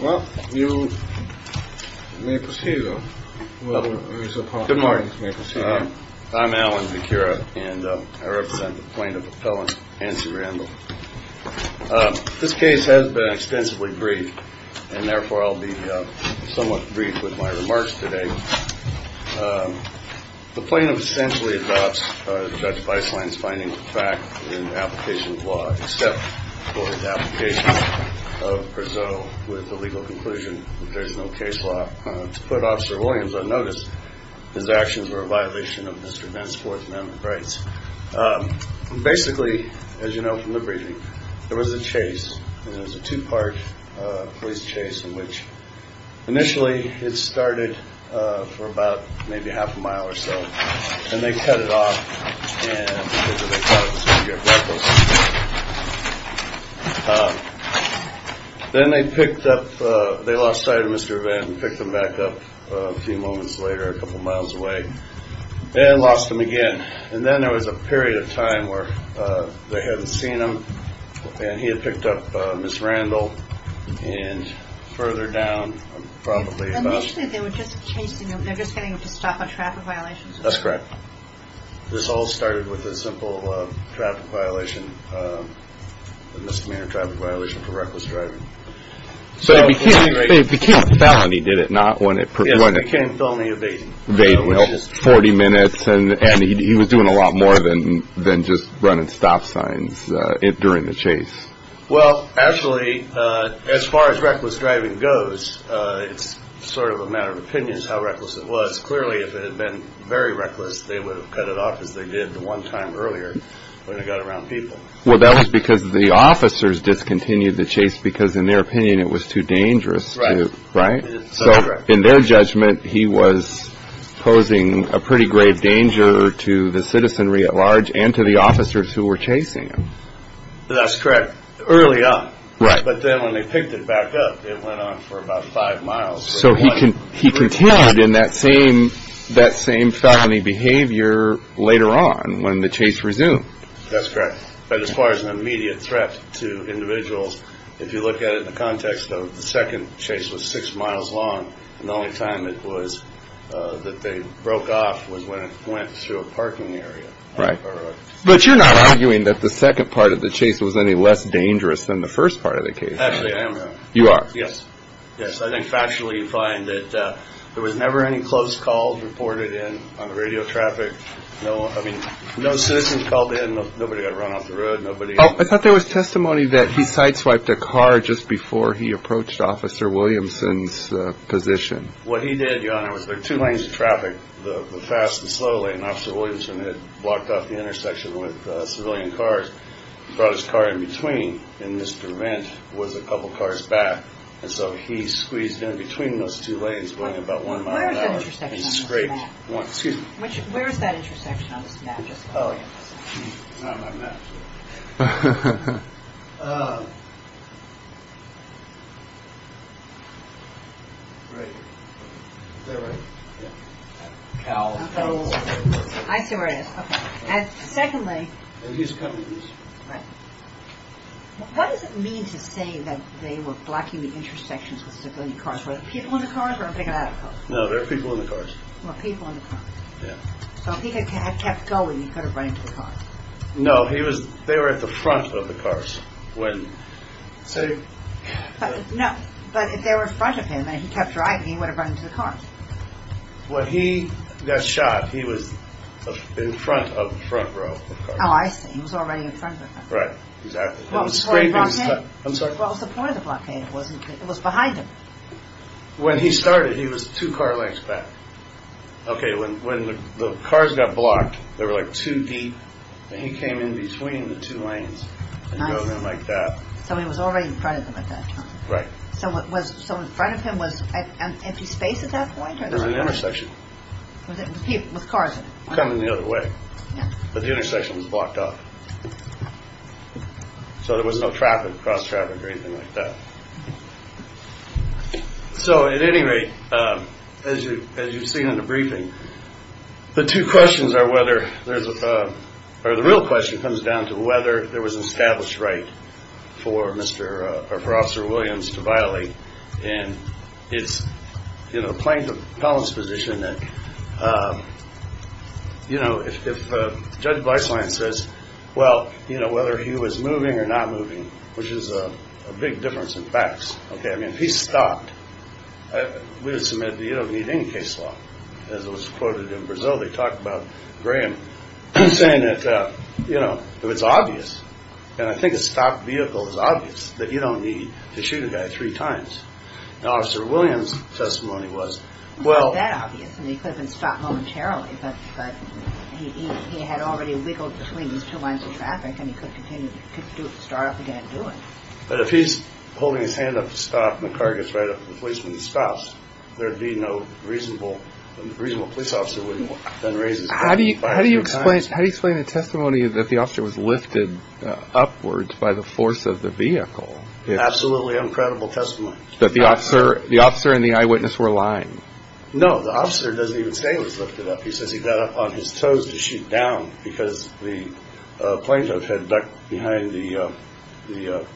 Well, you may proceed. Well, good morning. I'm Alan. And I represent the plaintiff appellant and see Randall. This case has been extensively brief and therefore I'll be somewhat brief with my remarks today. The plaintiff essentially adopts Judge Weisslein's finding of fact in the application of law except for his application of per se with the legal conclusion that there is no case law. To put Officer Williams on notice, his actions were a violation of Mr. Dent's Fourth Amendment rights. Basically, as you know from the briefing, there was a chase. It was a two part police chase in which initially it started for about maybe half a mile or so and they cut it off. And then they picked up. They lost sight of Mr. Van and picked them back up a few moments later, a couple of miles away and lost them again. And then there was a period of time where they hadn't seen him and he had picked up Miss Randall and further down. Probably initially they were just chasing him. They're just getting him to stop a traffic violation. That's correct. This all started with a simple traffic violation, a misdemeanor traffic violation for reckless driving. So it became a felony, did it not? Yes, it became a felony evasion. 40 minutes. And he was doing a lot more than just running stop signs during the chase. Well, actually, as far as reckless driving goes, it's sort of a matter of opinions how reckless it was. Clearly, if it had been very reckless, they would have cut it off as they did the one time earlier when it got around people. Well, that was because the officers discontinued the chase because, in their opinion, it was too dangerous. So in their judgment, he was posing a pretty grave danger to the citizenry at large and to the officers who were chasing him. That's correct. Early on. But then when they picked it back up, it went on for about five miles. So he continued in that same felony behavior later on when the chase resumed. That's correct. But as far as an immediate threat to individuals, if you look at it in the context of the second chase was six miles long. And the only time it was that they broke off was when it went through a parking area. Right. But you're not arguing that the second part of the chase was any less dangerous than the first part of the case. Actually, I am. You are. Yes. Yes. I think factually you find that there was never any close calls reported in on the radio traffic. No. I mean, no citizens called in. Nobody got run off the road. Nobody. I thought there was testimony that he sites like the car just before he approached Officer Williamson's position. What he did was there were two lanes of traffic. The fast and slow lane. Officer Williamson had blocked off the intersection with civilian cars, brought his car in between. And Mr. Rent was a couple of cars back. And so he squeezed in between those two lanes going about one mile an hour. This is great. Excuse me. Where is that intersection on this map? Oh, not on my map. I see where it is. And secondly, he's coming. What does it mean to say that they were blocking the intersections with civilian cars? No, there are people in the cars. So he kept going. He could have ran to the car. No, he was there at the front of the cars. When say no, but if they were in front of him and he kept driving, he would have run into the car. What he got shot. He was in front of the front row. Oh, I see. He was already in front. Right. Exactly. What was the point of the blockade? It was behind him. When he started, he was two car lengths back. OK, when the cars got blocked, they were like two deep. And he came in between the two lanes and drove them like that. So he was already in front of them at that time. Right. So in front of him was empty space at that point? It was an intersection. With cars coming the other way. But the intersection was blocked off. So there was no traffic, cross traffic or anything like that. So at any rate, as you've seen in the briefing, the two questions are whether there's a or the real question comes down to whether there was an established right for Mr. or for Officer Williams to violate. And it's, you know, playing the position that, you know, if Judge Weisslein says, well, you know, whether he was moving or not moving, which is a big difference in facts. OK, I mean, he stopped. We would submit that you don't need any case law, as it was quoted in Brazil. They talk about Graham saying that, you know, it's obvious. And I think a stopped vehicle is obvious that you don't need to shoot a guy three times. Officer Williams testimony was, well, that obviously could have been stopped momentarily. But he had already wiggled between these two lines of traffic and he could continue to start up again and do it. But if he's holding his hand up to stop and the car gets right up, the policeman stops. There'd be no reasonable, reasonable police officer wouldn't then raise his hand. How do you how do you explain how you explain the testimony that the officer was lifted upwards by the force of the vehicle? Absolutely incredible testimony that the officer, the officer and the eyewitness were lying. No, the officer doesn't even say he was lifted up. He says he got up on his toes to shoot down because the plane had ducked behind the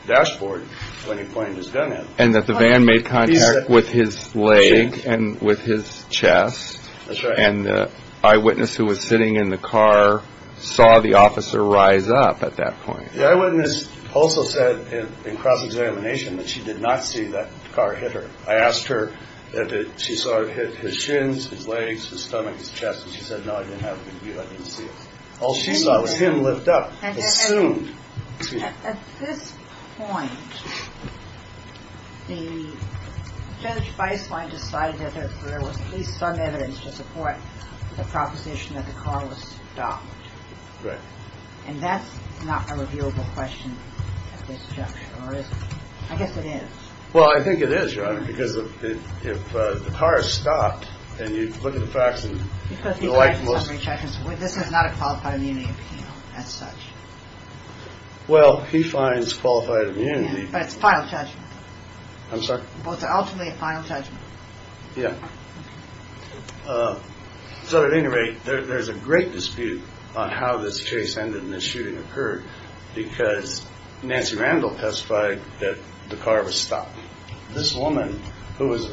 dashboard. When he pointed his gun at him and that the van made contact with his leg and with his chest. And the eyewitness who was sitting in the car saw the officer rise up at that point. The eyewitness also said in cross-examination that she did not see that car hit her. I asked her if she saw it hit his shins, his legs, his stomach, his chest. And she said, no, I didn't have a view. I didn't see it. All she saw was him lift up. At this point, the judge decided that there was at least some evidence to support the proposition that the car was stopped. Right. And that's not a reviewable question at this juncture, or is it? I guess it is. Well, I think it is, Your Honor, because if the car is stopped and you look at the facts and you like most. This is not a qualified immunity appeal as such. Well, he finds qualified immunity, but it's final judgment. I'm sorry. Ultimately, a final judgment. Yeah. So at any rate, there's a great dispute on how this case ended in the shooting occurred because Nancy Randall testified that the car was stopped. This woman who was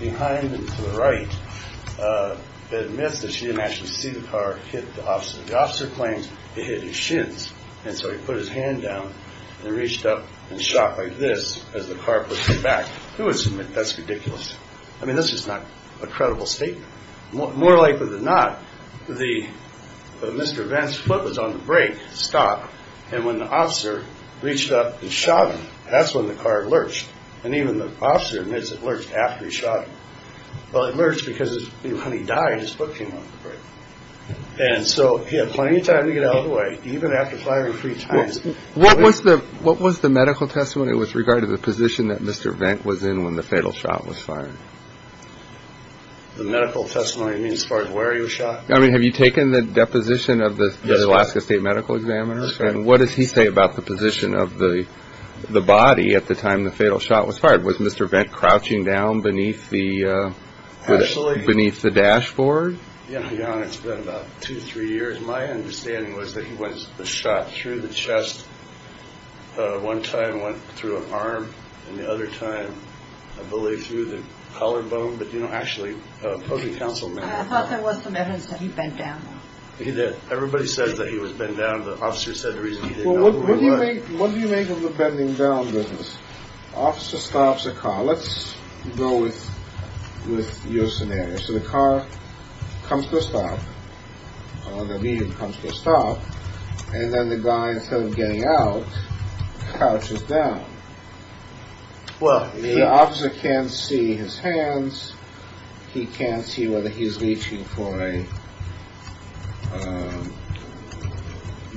behind and to the right admits that she didn't actually see the car hit the officer. The officer claims he hit his shins. And so he put his hand down and reached up and shot like this as the car pushed him back. Who would submit? That's ridiculous. I mean, this is not a credible statement. More likely than not, the Mr. Van's foot was on the brake stop. And when the officer reached up and shot him, that's when the car lurched. And even the officer admits it lurched after he shot. Well, it lurched because when he died, his foot came on the brake. And so he had plenty of time to get out of the way, even after firing three times. What was the what was the medical testimony with regard to the position that Mr. Van was in when the fatal shot was fired? The medical testimony as far as where he was shot. I mean, have you taken the deposition of the Alaska State Medical Examiner? And what does he say about the position of the body at the time the fatal shot was fired? Was Mr. Van crouching down beneath the beneath the dashboard? It's been about two or three years. My understanding was that he was shot through the chest. One time went through an arm and the other time, I believe, through the collarbone. I thought there was some evidence that he bent down. He did. Everybody says that he was bent down. The officer said the reason he did. What do you make of the bending down business? Officer stops a car. Let's go with your scenario. So the car comes to a stop. The medium comes to a stop. And then the guy, instead of getting out, crouches down. Well, the officer can't see his hands. He can't see whether he's reaching for a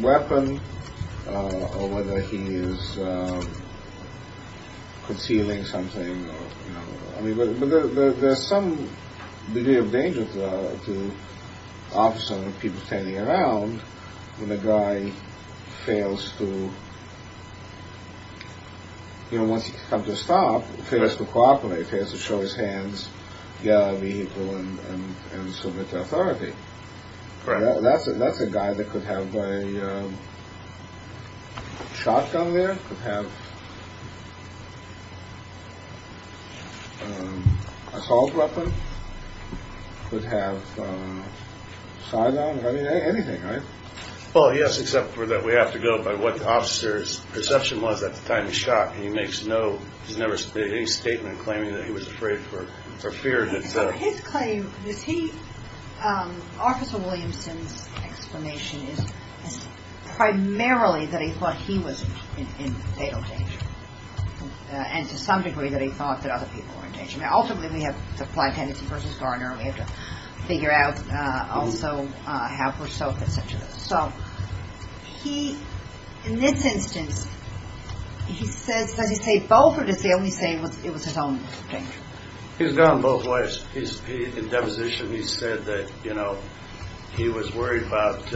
weapon or whether he is concealing something. But there's some degree of danger to officers and people standing around when the guy fails to, you know, once he comes to a stop, fails to cooperate, fails to show his hands, get out of the vehicle and submit to authority. That's it. That's a guy that could have a shotgun. There could have assault weapon. Could have anything. Oh, yes. Except for that. We have to go by what the officer's perception was at the time he shot. He makes no he's never made any statement claiming that he was afraid for fear. So his claim is he Officer Williamson's explanation is primarily that he thought he was in fatal danger. And to some degree that he thought that other people were in danger. Now, ultimately, we have to fly Tennessee versus Gardner. We have to figure out also how we're so sensitive. So he in this instance, he says, does he say both? It was his own thing. He's gone both ways. He's in deposition. He said that, you know, he was worried about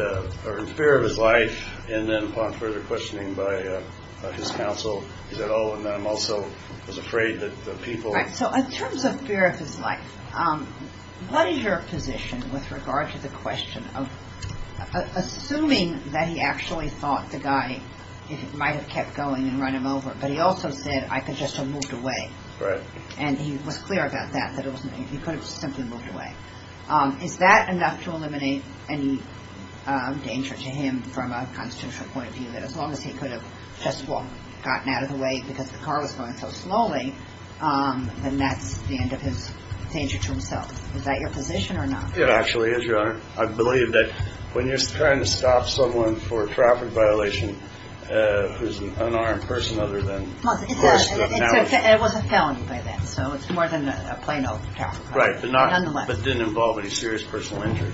or in fear of his life. And then upon further questioning by his counsel, he said, oh, and I'm also was afraid that the people. So in terms of fear of his life, what is your position with regard to the question of assuming that he actually thought the guy might have kept going and run him over? But he also said, I could just have moved away. Right. And he was clear about that, that he could have simply moved away. Is that enough to eliminate any danger to him from a constitutional point of view that as long as he could have just gotten out of the way because the car was going so slowly? And that's the end of his danger to himself. Is that your position or not? It actually is your honor. I believe that when you're trying to stop someone for a traffic violation, who's an unarmed person other than it was a felony. So it's more than a plain old. Right. But not that didn't involve any serious personal injury.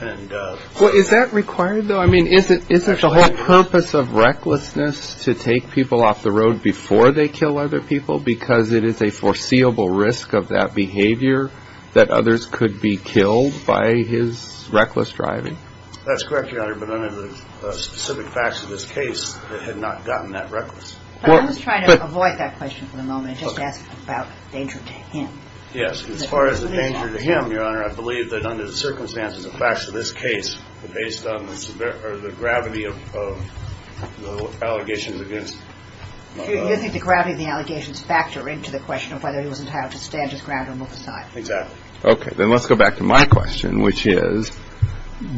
And what is that required, though? I mean, is it isn't the whole purpose of recklessness to take people off the road before they kill other people? Because it is a foreseeable risk of that behavior that others could be killed by his reckless driving. That's correct. But under the specific facts of this case, it had not gotten that reckless. I was trying to avoid that question for the moment. Just ask about danger to him. Yes. As far as the danger to him, your honor, I believe that under the circumstances, the facts of this case are based on the gravity of the allegations against. You think the gravity of the allegations factor into the question of whether he was entitled to stand his ground or move aside? Exactly. OK, then let's go back to my question, which is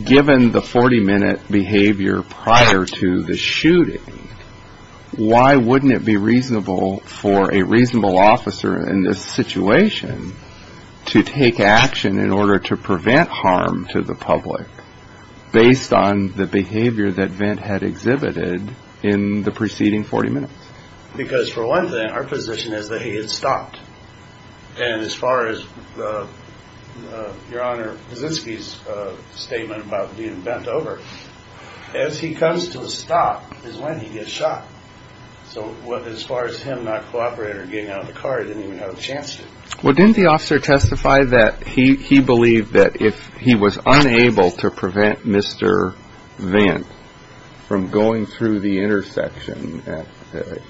given the 40 minute behavior prior to the shooting. Why wouldn't it be reasonable for a reasonable officer in this situation to take action in order to prevent harm to the public? Based on the behavior that Vint had exhibited in the preceding 40 minutes, because for one thing, our position is that he had stopped. And as far as your honor, this is his statement about being bent over as he comes to a stop is when he gets shot. So as far as him not cooperating or getting out of the car, he didn't even have a chance. Well, didn't the officer testify that he believed that if he was unable to prevent Mr. Vint from going through the intersection at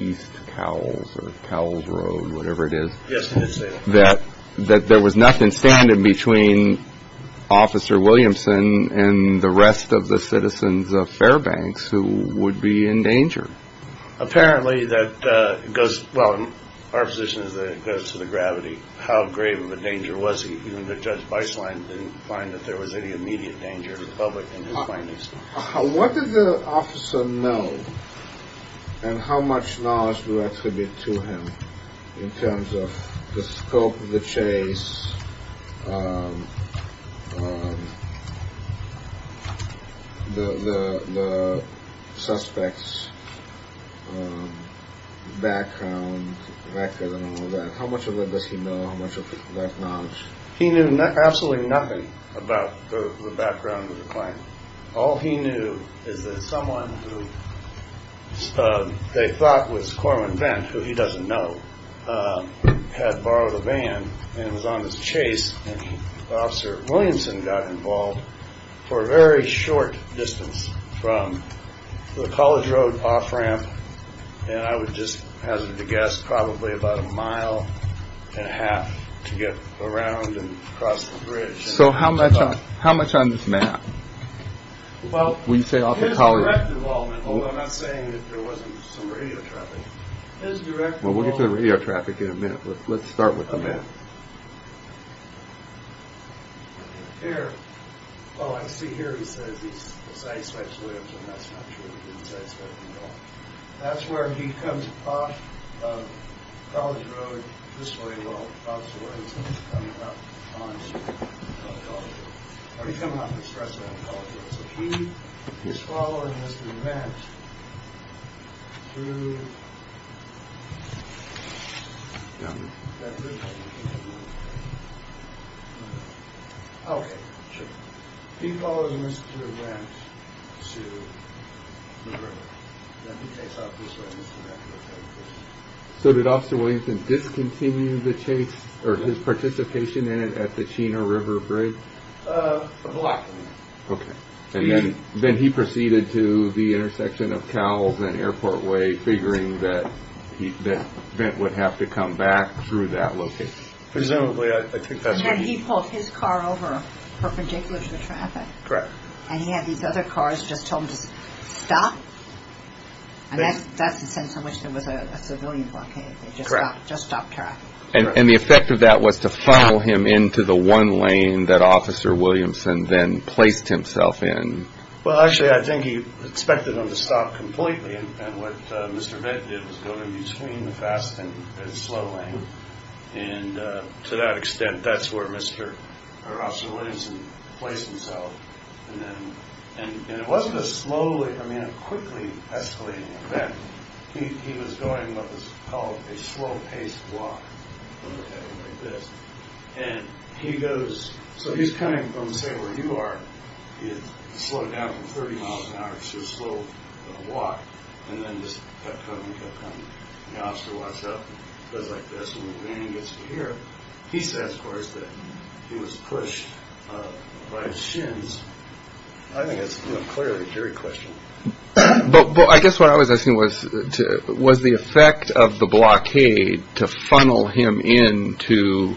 East Cowles or Cowles Road, whatever it is, that that there was nothing standing in between Officer Williamson and the rest of the citizens of Fairbanks who would be in danger? Apparently that goes. Well, our position is that it goes to the gravity. How grave of a danger was he? Judge Biceline didn't find that there was any immediate danger to the public in his findings. What did the officer know and how much knowledge to attribute to him in terms of the scope of the chase? The suspect's background record and all that. How much of that does he know? How much of that knowledge? He knew absolutely nothing about the background of the crime. All he knew is that someone who they thought was Corwin Vint, who he doesn't know, had borrowed a van and was on his chase. Officer Williamson got involved for a very short distance from the College Road off ramp. I would just hazard to guess, probably about a mile and a half to get around and cross the bridge. So how much on this map? Well, his direct involvement, although I'm not saying that there wasn't some radio traffic. Well, we'll get to the radio traffic in a minute. Let's start with the map. Here. Oh, I see here he says he's the suspect's Williams. And that's not true. That's where he comes off College Road. This way. Well, that's where he's coming up. So he is following this through. OK, sure. He's following this through ramp to the river. So did Officer Williamson discontinue the chase or his participation in it at the Chena River Bridge? Then he proceeded to the intersection of Cowles and Airport Way, figuring that Vint would have to come back through that location. Presumably. And then he pulled his car over perpendicular to the traffic. Correct. And he had these other cars just tell him to stop. And that's the sense in which there was a civilian blockade. They just stopped traffic. And the effect of that was to funnel him into the one lane that Officer Williamson then placed himself in. Well, actually, I think he expected him to stop completely. And what Mr. Vint did was go in between the fast and slow lane. And to that extent, that's where Mr. Officer Williamson placed himself. And it wasn't a slowly, I mean, a quickly escalating event. He was going what was called a slow paced walk. And he goes, so he's coming from say where you are. He had slowed down from 30 miles an hour to a slow walk. And then just kept coming, kept coming. The officer walks up, goes like this, and the van gets to here. He says, of course, that he was pushed by his shins. I think it's clearly a jury question. But I guess what I was asking was, was the effect of the blockade to funnel him into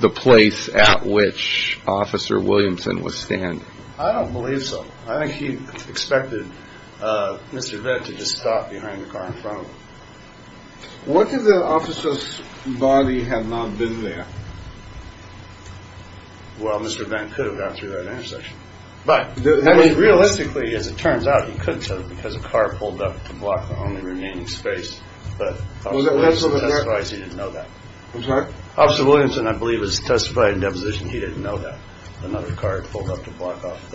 the place at which Officer Williamson was standing? I don't believe so. I think he expected Mr. Vint to just stop behind the car in front of him. What if the officer's body had not been there? Well, Mr. Vint could have gone through that intersection. But I mean, realistically, as it turns out, he couldn't have because a car pulled up to block the only remaining space. But that's why I didn't know that. Officer Williamson, I believe, was testified in deposition. He didn't know that another car pulled up to block off.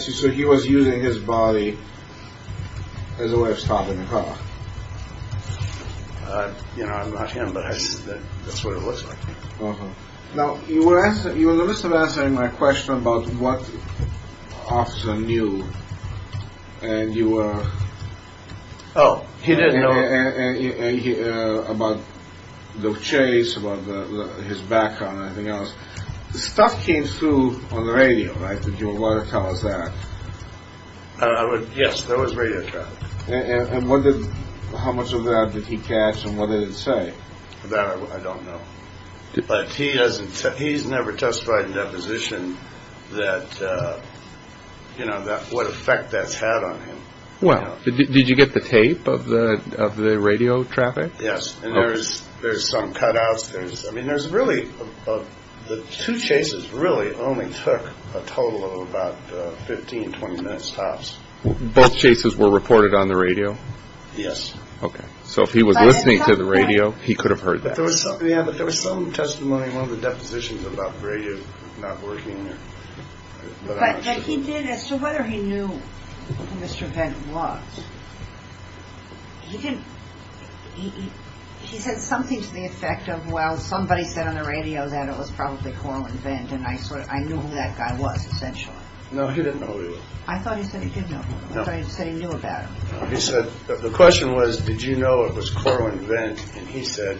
So he was using his body as a way of stopping the car. You know, I'm not him, but that's what it looks like. Now, you were answering my question about what officer knew and you were. Oh, he did know about the chase, about his background and everything else. The stuff came through on the radio, right? Did you want to tell us that? Yes, there was radio traffic. And what did, how much of that did he catch and what did it say? That I don't know. But he's never testified in deposition that, you know, what effect that's had on him. Well, did you get the tape of the radio traffic? Yes, and there's some cutouts. I mean, there's really, the two chases really only took a total of about 15, 20 minutes tops. Both chases were reported on the radio? Yes. Okay, so if he was listening to the radio, he could have heard that. Yeah, but there was some testimony in one of the depositions about the radio not working. But he did, as to whether he knew who Mr. Vendt was, he didn't, he said something to the effect of, well, somebody said on the radio that it was probably Corwin Vendt and I knew who that guy was essentially. No, he didn't know who he was. I thought he said he did know who he was. I thought he said he knew about him. He said, the question was, did you know it was Corwin Vendt? And he said,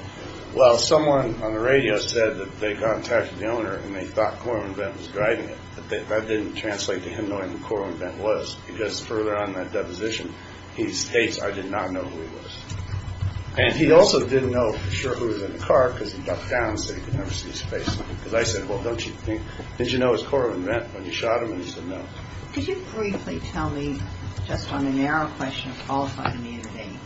well, someone on the radio said that they contacted the owner and they thought Corwin Vendt was driving it. That didn't translate to him knowing who Corwin Vendt was, because further on in that deposition he states, I did not know who he was. And he also didn't know for sure who was in the car because he ducked down so he could never see his face. Because I said, well, don't you think, did you know it was Corwin Vendt when you shot him? And he said no. Could you briefly tell me, just on the narrow question of qualified immunity,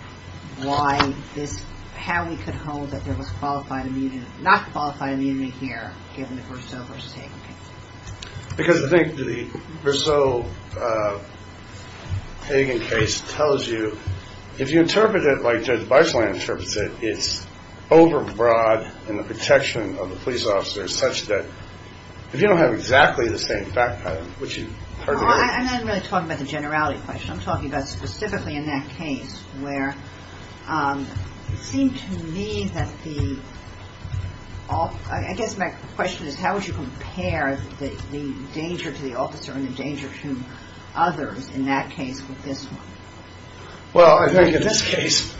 why this, how we could hold that there was qualified immunity, not qualified immunity here given the Briseau v. Hagen case? Because I think the Briseau-Hagen case tells you, if you interpret it like Judge Bicelan interprets it, it's overbroad in the protection of the police officers such that if you don't have exactly the same fact pattern, which you heard about. Well, I'm not really talking about the generality question. I'm talking about specifically in that case where it seemed to me that the, I guess my question is how would you compare the danger to the officer and the danger to others in that case with this one? Well, I think in this case,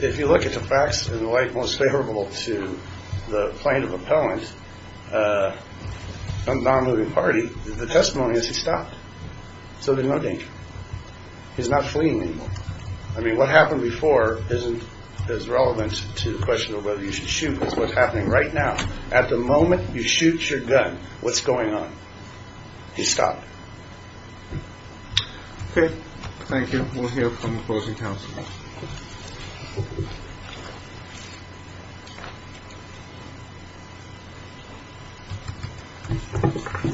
if you look at the facts, in the light most favorable to the plaintiff appellant, non-moving party, the testimony is he stopped. So there's no danger. He's not fleeing anymore. I mean, what happened before isn't as relevant to the question of whether you should shoot as what's happening right now. At the moment you shoot your gun, what's going on? He stopped. Okay. Thank you. We'll hear from the closing counsel.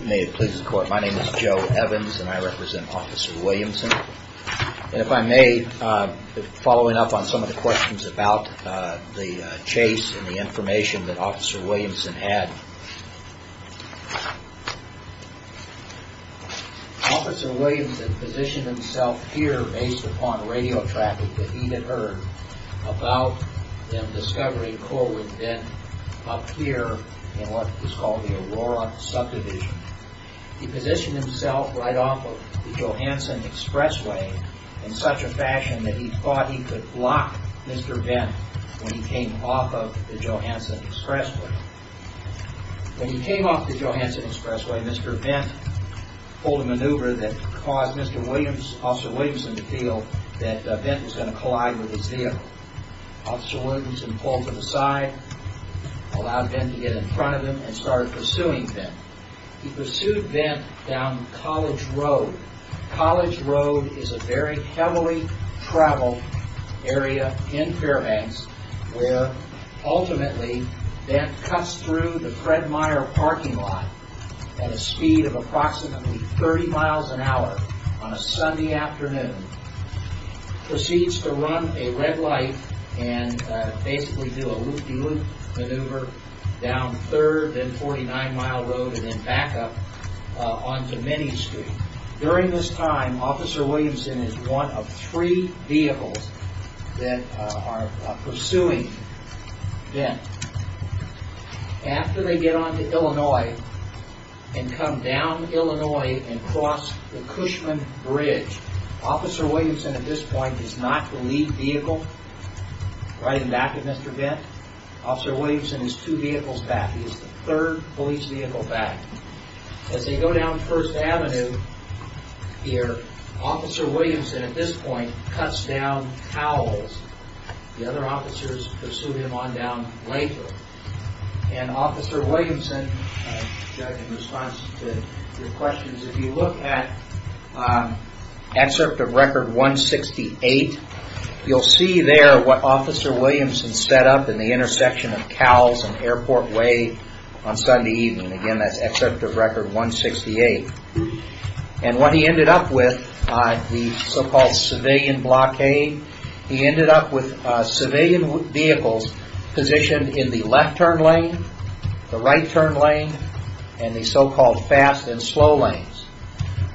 May it please the court. My name is Joe Evans and I represent Officer Williamson. And if I may, following up on some of the questions about the chase and the information that Officer Williamson had. Officer Williamson positioned himself here based upon radio traffic that he had heard about the discovery of Corwin Bent up here in what was called the Aurora subdivision. He positioned himself right off of the Johansson Expressway in such a fashion that he thought he could block Mr. Bent when he came off of the Johansson Expressway. When he came off the Johansson Expressway, Mr. Bent pulled a maneuver that caused Officer Williamson to feel that Bent was going to collide with his vehicle. Officer Williamson pulled to the side, allowed Bent to get in front of him, and started pursuing Bent. He pursued Bent down College Road. College Road is a very heavily traveled area in Fairbanks where ultimately Bent cuts through the Fred Meyer parking lot at a speed of approximately 30 miles an hour on a Sunday afternoon, proceeds to run a red light and basically do a loop-de-loop maneuver down 3rd, then 49 Mile Road, and then back up onto Minnie Street. During this time, Officer Williamson is one of three vehicles that are pursuing Bent. After they get onto Illinois and come down Illinois and cross the Cushman Bridge, Officer Williamson at this point is not the lead vehicle riding back at Mr. Bent. Officer Williamson is two vehicles back. He is the third police vehicle back. As they go down 1st Avenue here, Officer Williamson at this point cuts down Cowles. The other officers pursue him on down later. And Officer Williamson, in response to your questions, if you look at Excerpt of Record 168, you'll see there what Officer Williamson set up in the intersection of Cowles and Airport Way on Sunday evening. Again, that's Excerpt of Record 168. And what he ended up with, the so-called civilian blockade, he ended up with civilian vehicles positioned in the left turn lane, the right turn lane, and the so-called fast and slow lanes.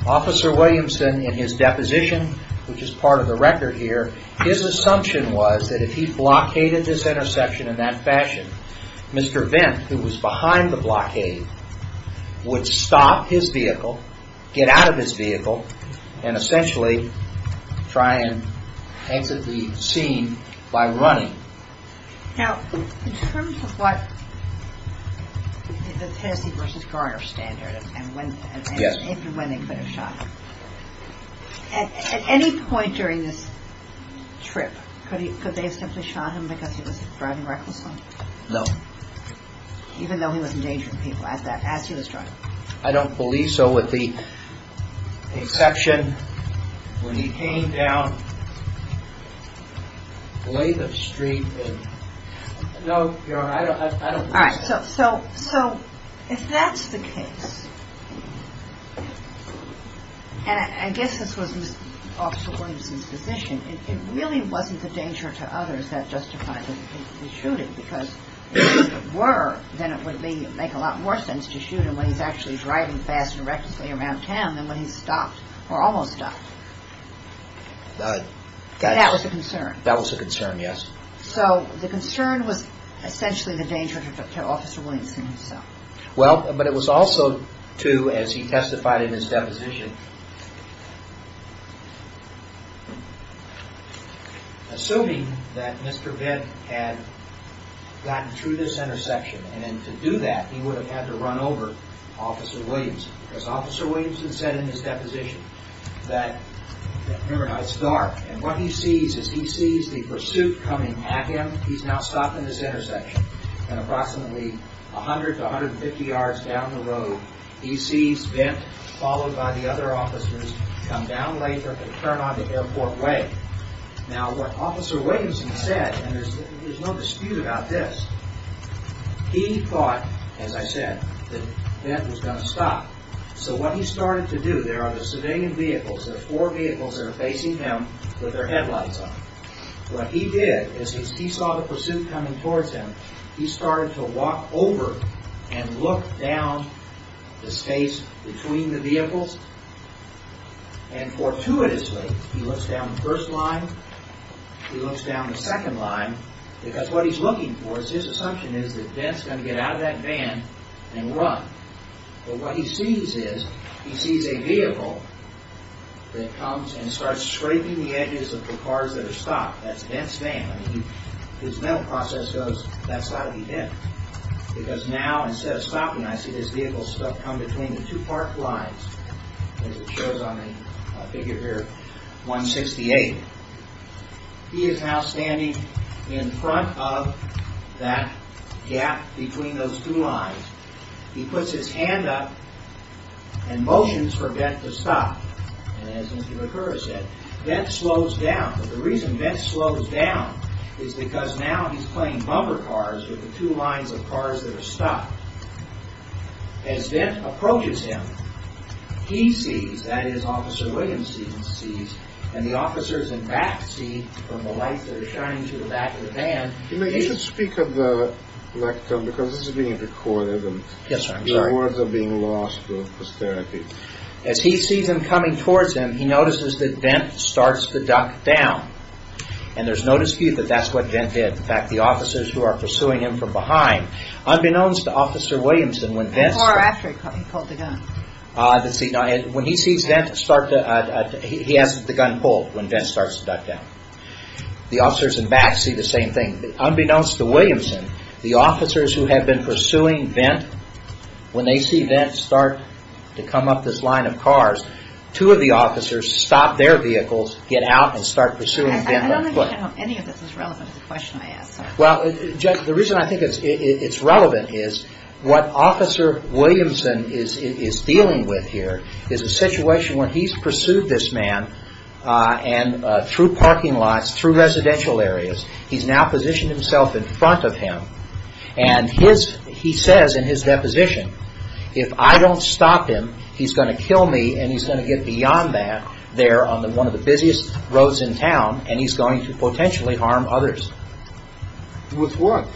Officer Williamson, in his deposition, which is part of the record here, his assumption was that if he blockaded this intersection in that fashion, Mr. Bent, who was behind the blockade, would stop his vehicle, get out of his vehicle, and essentially try and exit the scene by running. Now, in terms of what the Tennessee versus Garner standard, and when they could have shot him, at any point during this trip, could they have simply shot him because he was driving recklessly? No. Even though he was endangering people as he was driving? I don't believe so, with the exception, when he came down, laid up straight and... No, I don't believe so. So, if that's the case, and I guess this was Officer Williamson's position, it really wasn't the danger to others that justified the shooting because if it were, then it would make a lot more sense to shoot him when he's actually driving fast and recklessly around town than when he stopped, or almost stopped. That was the concern. That was the concern, yes. So, the concern was essentially the danger to Officer Williamson himself. Well, but it was also, too, as he testified in his deposition, assuming that Mr. Venn had gotten through this intersection, and to do that, he would have had to run over Officer Williamson because Officer Williamson said in his deposition that, remember now, it's dark, and what he sees is he sees the pursuit coming at him, he's now stopped in this intersection, and approximately 100 to 150 yards down the road, he sees Venn, followed by the other officers, come down later and turn onto Airport Way. Now, what Officer Williamson said, and there's no dispute about this, he thought, as I said, that Venn was going to stop. So, what he started to do, there are the civilian vehicles, there are four vehicles that are facing him with their headlights on. What he did is he saw the pursuit coming towards him, he started to walk over and look down the space between the vehicles, and fortuitously, he looks down the first line, he looks down the second line, because what he's looking for is, his assumption is that Venn's going to get out of that van and run. But what he sees is, he sees a vehicle that comes and starts scraping the edges of the cars that are stopped. That's Venn's van. His mental process goes, that's got to be Venn. Because now, instead of stopping, I see this vehicle come between the two parked lines, as it shows on the figure here, 168. He is now standing in front of that gap between those two lines. He puts his hand up and motions for Venn to stop. And as Mr. McCurra said, Venn slows down. The reason Venn slows down is because now he's playing bumper cars with the two lines of cars that are stopped. As Venn approaches him, he sees, that is, Officer Williams sees, and the officers in back see from the lights that are shining to the back of the van. You should speak at the lectern, because this is being recorded, and your words are being lost for austerity. As he sees them coming towards him, he notices that Venn starts to duck down. And there's no dispute that that's what Venn did. In fact, the officers who are pursuing him from behind, unbeknownst to Officer Williamson, when Venn starts... Or after he pulled the gun. When he sees Venn start to... He has the gun pulled when Venn starts to duck down. The officers in back see the same thing. Unbeknownst to Williamson, the officers who have been pursuing Venn, when they see Venn start to come up this line of cars, two of the officers stop their vehicles, get out, and start pursuing Venn by foot. I don't think any of this is relevant to the question I asked. Well, the reason I think it's relevant is what Officer Williamson is dealing with here is a situation where he's pursued this man through parking lots, through residential areas. He's now positioned himself in front of him. And he says in his deposition, if I don't stop him, he's going to kill me and he's going to get beyond that there on one of the busiest roads in town and he's going to potentially harm others. With what?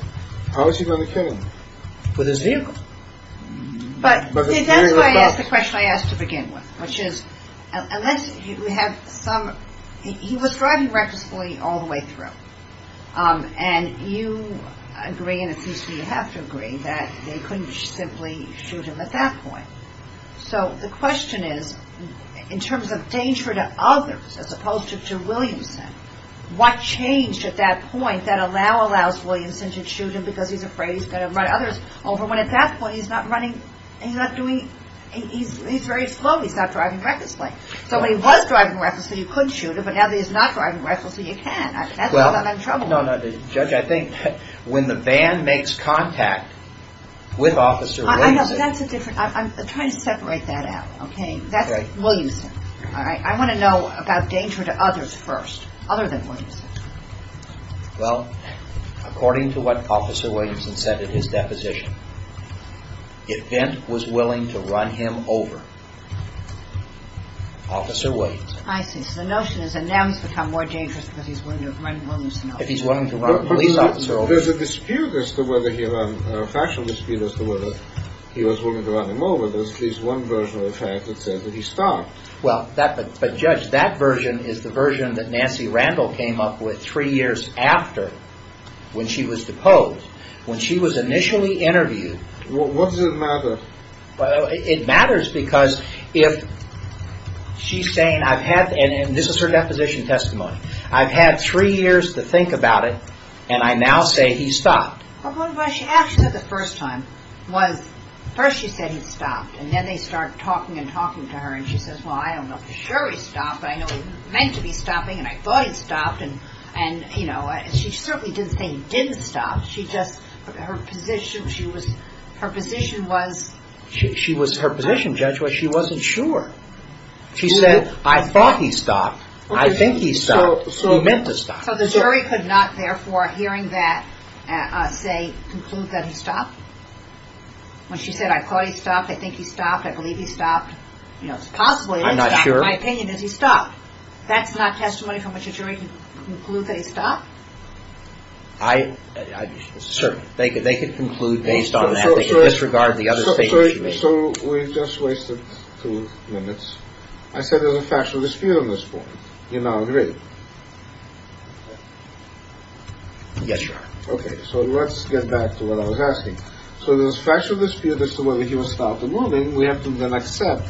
How is he going to kill him? With his vehicle. But that's why I asked the question I asked to begin with. Which is, unless you have some... He was driving recklessly all the way through. And you agree, and it seems to me you have to agree, that they couldn't simply shoot him at that point. So the question is, in terms of danger to others as opposed to Williamson, what changed at that point that allows Williamson to shoot him because he's afraid he's going to run others over when at that point he's not running... He's very slow. He's not driving recklessly. So when he was driving recklessly, you couldn't shoot him. But now that he's not driving recklessly, you can. Judge, I think when the van makes contact with Officer Williamson... I'm trying to separate that out. That's Williamson. I want to know about danger to others first. Other than Williamson. Well, according to what Officer Williamson said in his deposition, if Vint was willing to run him over, Officer Williamson... I see. So the notion is that now he's become more dangerous because he's willing to run Williamson over. If he's willing to run police officers over. There's a fashion dispute as to whether he was willing to run him over. There's at least one version of the fact that says that he stopped. But Judge, that version is the version that Nancy Randall came up with three years after when she was deposed. When she was initially interviewed... What does it matter? It matters because if she's saying I've had... And this is her deposition testimony. I've had three years to think about it, and I now say he stopped. What she actually said the first time was, first she said he stopped. And then they started talking and talking to her. And she says, well, I don't know for sure he stopped. I know he was meant to be stopping, and I thought he'd stopped. And she certainly didn't say he didn't stop. Her position was... Her position, Judge, was she wasn't sure. She said, I thought he stopped. I think he stopped. He meant to stop. So the jury could not, therefore, hearing that, say, conclude that he stopped? When she said, I thought he stopped, I think he stopped, I believe he stopped. It's possible. I'm not sure. That's not testimony from which a jury can conclude that he stopped? I... Certainly. They could conclude based on that. They could disregard the other statements you made. So we've just wasted two minutes. I said there's a factual dispute on this point. You now agree? Yes, Your Honor. Okay, so let's get back to what I was asking. So there's a factual dispute as to whether he was stopped or moving. We have to then accept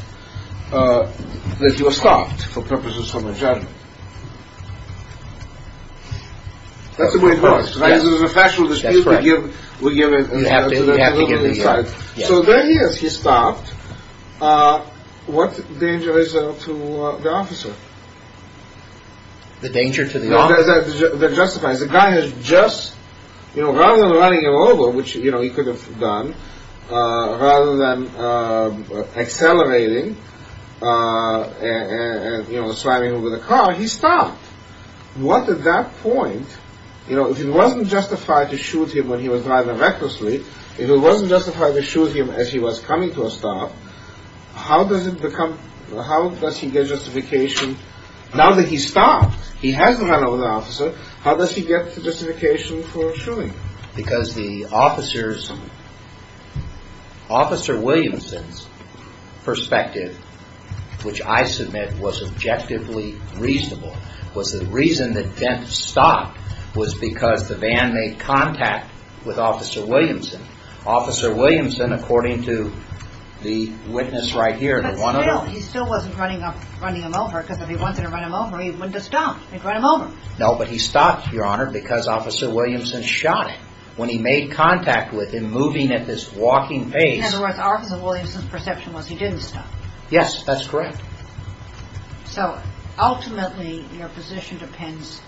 that he was stopped for purposes of a judgment. That's the way it works, right? There's a factual dispute. That's correct. We give it... We have to give it, yes. So there he is. He stopped. What danger is there to the officer? The danger to the officer? That justifies it. The guy has just, you know, rather than running over, which, you know, he could have done, rather than accelerating and, you know, sliding over the car, he stopped. What at that point... You know, if it wasn't justified to shoot him when he was driving recklessly, if it wasn't justified to shoot him as he was coming to a stop, how does it become... How does he get justification... Now that he stopped, he hasn't run over the officer, how does he get justification for shooting? Because the officer's... Officer Williamson's perspective, which I submit was objectively reasonable, was the reason that Dent stopped was because the van made contact with Officer Williamson. Officer Williamson, according to the witness right here... But still, he still wasn't running him over, because if he wanted to run him over, he wouldn't have stopped. He'd run him over. No, but he stopped, Your Honor, because Officer Williamson shot him. When he made contact with him moving at this walking pace... In other words, Officer Williamson's perception was he didn't stop. Yes, that's correct. So, ultimately, your position depends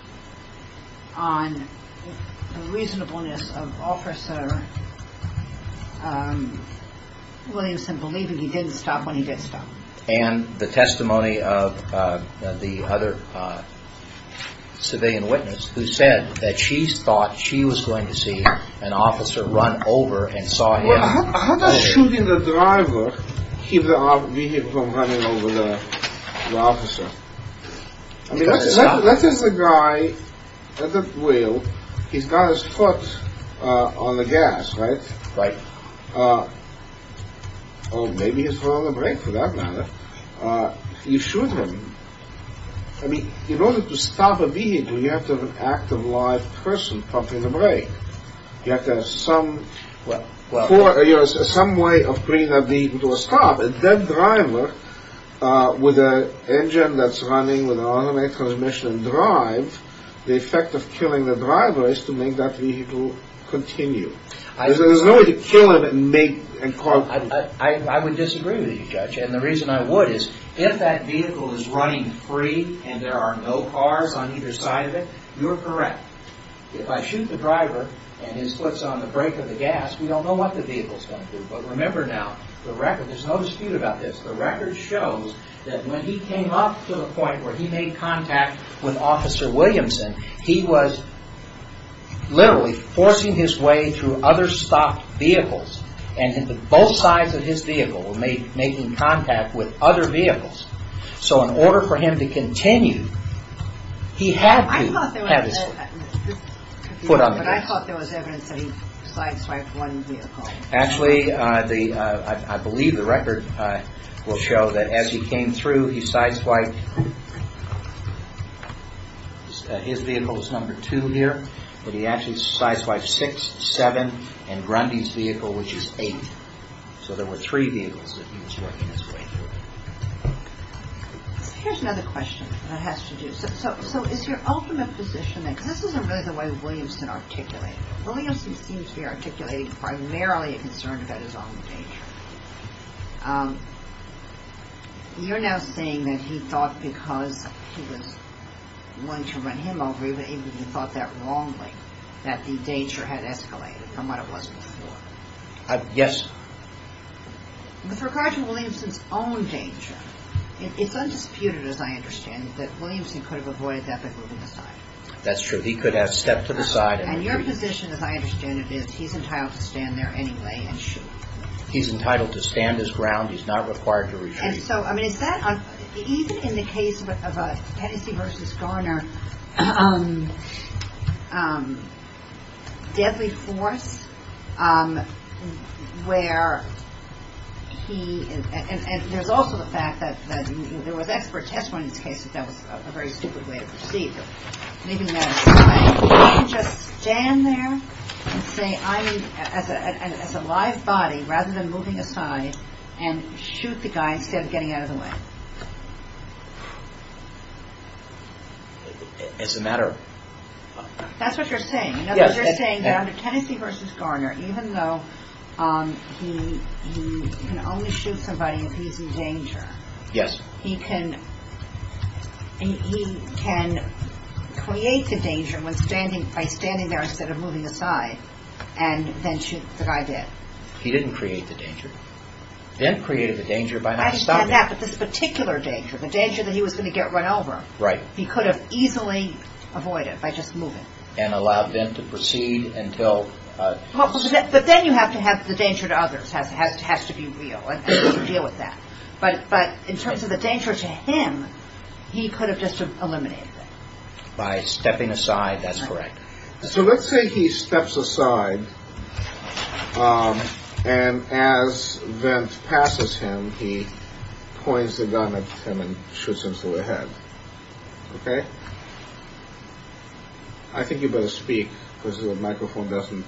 on the reasonableness of Officer Williamson believing he didn't stop when he did stop. And the testimony of the other civilian witness, who said that she thought she was going to see an officer run over and saw him... How does shooting the driver keep the vehicle from running over the officer? I mean, let's say there's a guy at the wheel. He's got his foot on the gas, right? Right. Or maybe his foot on the brake, for that matter. You shoot him. I mean, in order to stop a vehicle, you have to have an active, live person pumping the brake. You have to have some way of bringing that vehicle to a stop. And that driver, with an engine that's running with an automated transmission and drive, the effect of killing the driver is to make that vehicle continue. There's no way to kill him and make... I would disagree with you, Judge. And the reason I would is if that vehicle is running free and there are no cars on either side of it, you're correct. If I shoot the driver and his foot's on the brake or the gas, we don't know what the vehicle's going to do. But remember now, there's no dispute about this. The record shows that when he came up to the point where he made contact with Officer Williamson, he was literally forcing his way through other stopped vehicles. And both sides of his vehicle were making contact with other vehicles. So in order for him to continue, he had to have his foot on the brake. Foot on the gas. But I thought there was evidence that he sideswiped one vehicle. Actually, I believe the record will show that as he came through, he sideswiped... His vehicle was number two here. But he actually sideswiped six, seven, and Grundy's vehicle, which is eight. So there were three vehicles that he was working his way through. Here's another question that I have to do. So is your ultimate position, because this isn't really the way Williamson articulated it. Williamson seems to be articulating primarily a concern about his own danger. You're now saying that he thought because he was willing to run him over, he thought that wrongly, that the danger had escalated from what it was before. Yes. With regard to Williamson's own danger, it's undisputed, as I understand it, that Williamson could have avoided that by moving aside. That's true. He could have stepped to the side. And your position, as I understand it, is he's entitled to stand there anyway and shoot. He's entitled to stand his ground. He's not required to retreat. So, I mean, is that... Even in the case of Hennessey v. Garner, deadly force, where he... And there's also the fact that there was expert testimony in this case that that was a very stupid way to proceed. But maybe we can just stand there and say, I mean, as a live body, rather than moving aside and shoot the guy instead of getting out of the way. As a matter of... That's what you're saying. Yes. But you're saying that under Hennessey v. Garner, even though he can only shoot somebody if he's in danger, he can create the danger by standing there instead of moving aside and then shoot the guy dead. He didn't create the danger. Ben created the danger by not stopping him. Not just that, but this particular danger, the danger that he was going to get run over. Right. He could have easily avoided it by just moving. And allowed them to proceed until... But then you have to have the danger to others has to be real. And you have to deal with that. But in terms of the danger to him, he could have just eliminated it. By stepping aside, that's correct. So let's say he steps aside. And as Vint passes him, he points the gun at him and shoots him to the head. Okay? I think you better speak because the microphone doesn't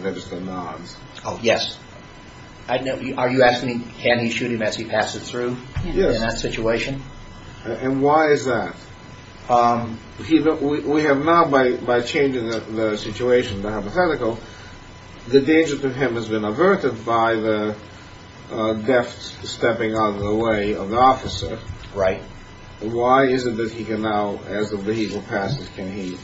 register nods. Oh, yes. Are you asking can he shoot him as he passes through? Yes. In that situation? And why is that? We have now, by changing the situation, the hypothetical, the danger to him has been averted by the deft stepping out of the way of the officer. Right. Why is it that he can now, as the vehicle passes, can he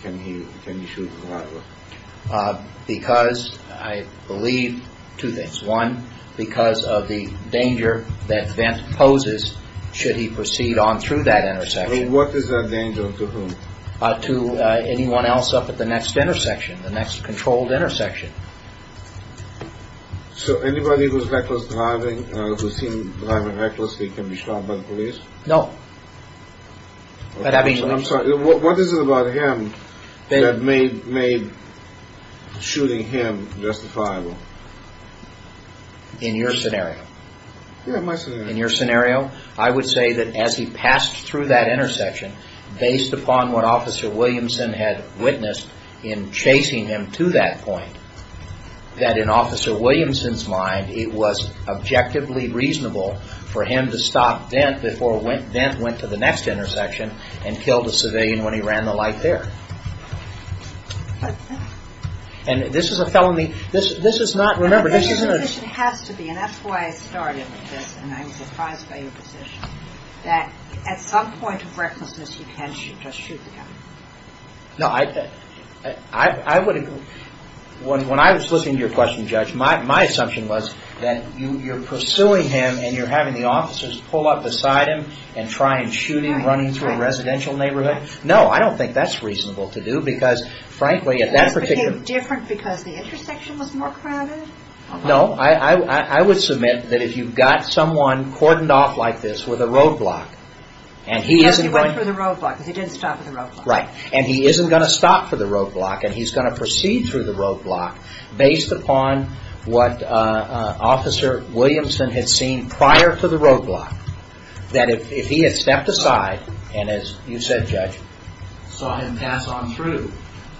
shoot the driver? Because I believe two things. One, because of the danger that Vint poses should he proceed on through that intersection. What is that danger to whom? To anyone else up at the next intersection, the next controlled intersection. So anybody who is reckless driving, who is seen driving recklessly can be shot by the police? No. I'm sorry. What is it about him that made shooting him justifiable? In your scenario? Yes, my scenario. In your scenario, I would say that as he passed through that intersection, based upon what Officer Williamson had witnessed in chasing him to that point, that in Officer Williamson's mind it was objectively reasonable for him to stop Vint before Vint went to the next intersection and killed a civilian when he ran the light there. And this is a felony. But his position has to be, and that's why I started with this, and I was surprised by your position, that at some point of recklessness you can't just shoot the guy. No, I would agree. When I was listening to your question, Judge, my assumption was that you're pursuing him and you're having the officers pull up beside him and try and shoot him running through a residential neighborhood. No, I don't think that's reasonable to do because, frankly, at that particular point because the intersection was more crowded? No, I would submit that if you've got someone cordoned off like this with a roadblock, and he isn't going to stop for the roadblock, and he's going to proceed through the roadblock based upon what Officer Williamson had seen prior to the roadblock, that if he had stepped aside, and as you said, Judge, saw him pass on through,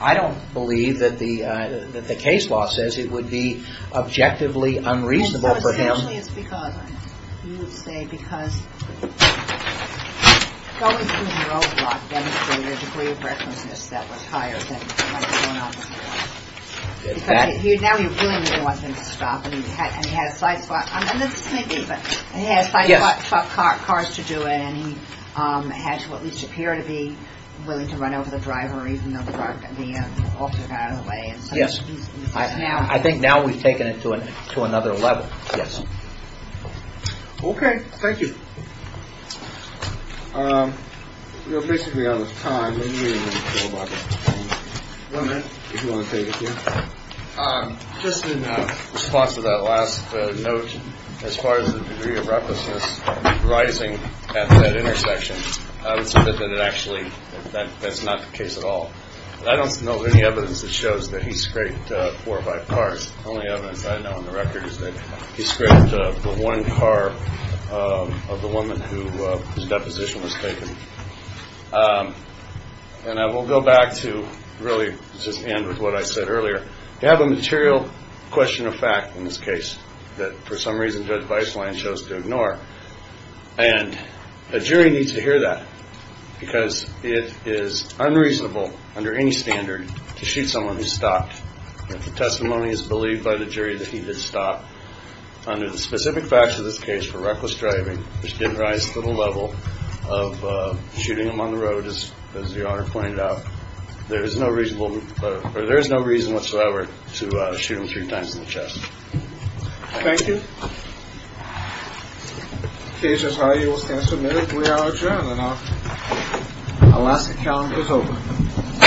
I don't believe that the case law says it would be objectively unreasonable for him. And so essentially it's because, you would say, because going through the roadblock demonstrated a degree of recklessness that was higher than what might have gone on before. Exactly. Because now he really wasn't going to stop, and he had a side spot. And this may be, but he had side spot cars to do it, and he had to at least appear to be willing to run over the driver even though the officer got out of the way. Yes. I think now we've taken it to another level. Yes. Okay. Thank you. You know, basically on this time, maybe you have anything to say about that, if you want to take it, yeah? Just in response to that last note, as far as the degree of recklessness rising at that intersection, I would say that actually that's not the case at all. I don't know of any evidence that shows that he scraped four or five cars. The only evidence I know on the record is that he scraped the one car of the woman whose deposition was taken. And I will go back to really just end with what I said earlier. You have a material question of fact in this case that for some reason Judge Weisslein chose to ignore, and a jury needs to hear that because it is unreasonable under any standard to shoot someone who's stopped. If the testimony is believed by the jury that he did stop, under the specific facts of this case for reckless driving, which did rise to the level of shooting him on the road, as the Honor pointed out, there is no reason whatsoever to shoot him three times in the chest. Thank you. Okay, Judge Howe, you will stand submitted. We are adjourned, and our Alaska calendar is open.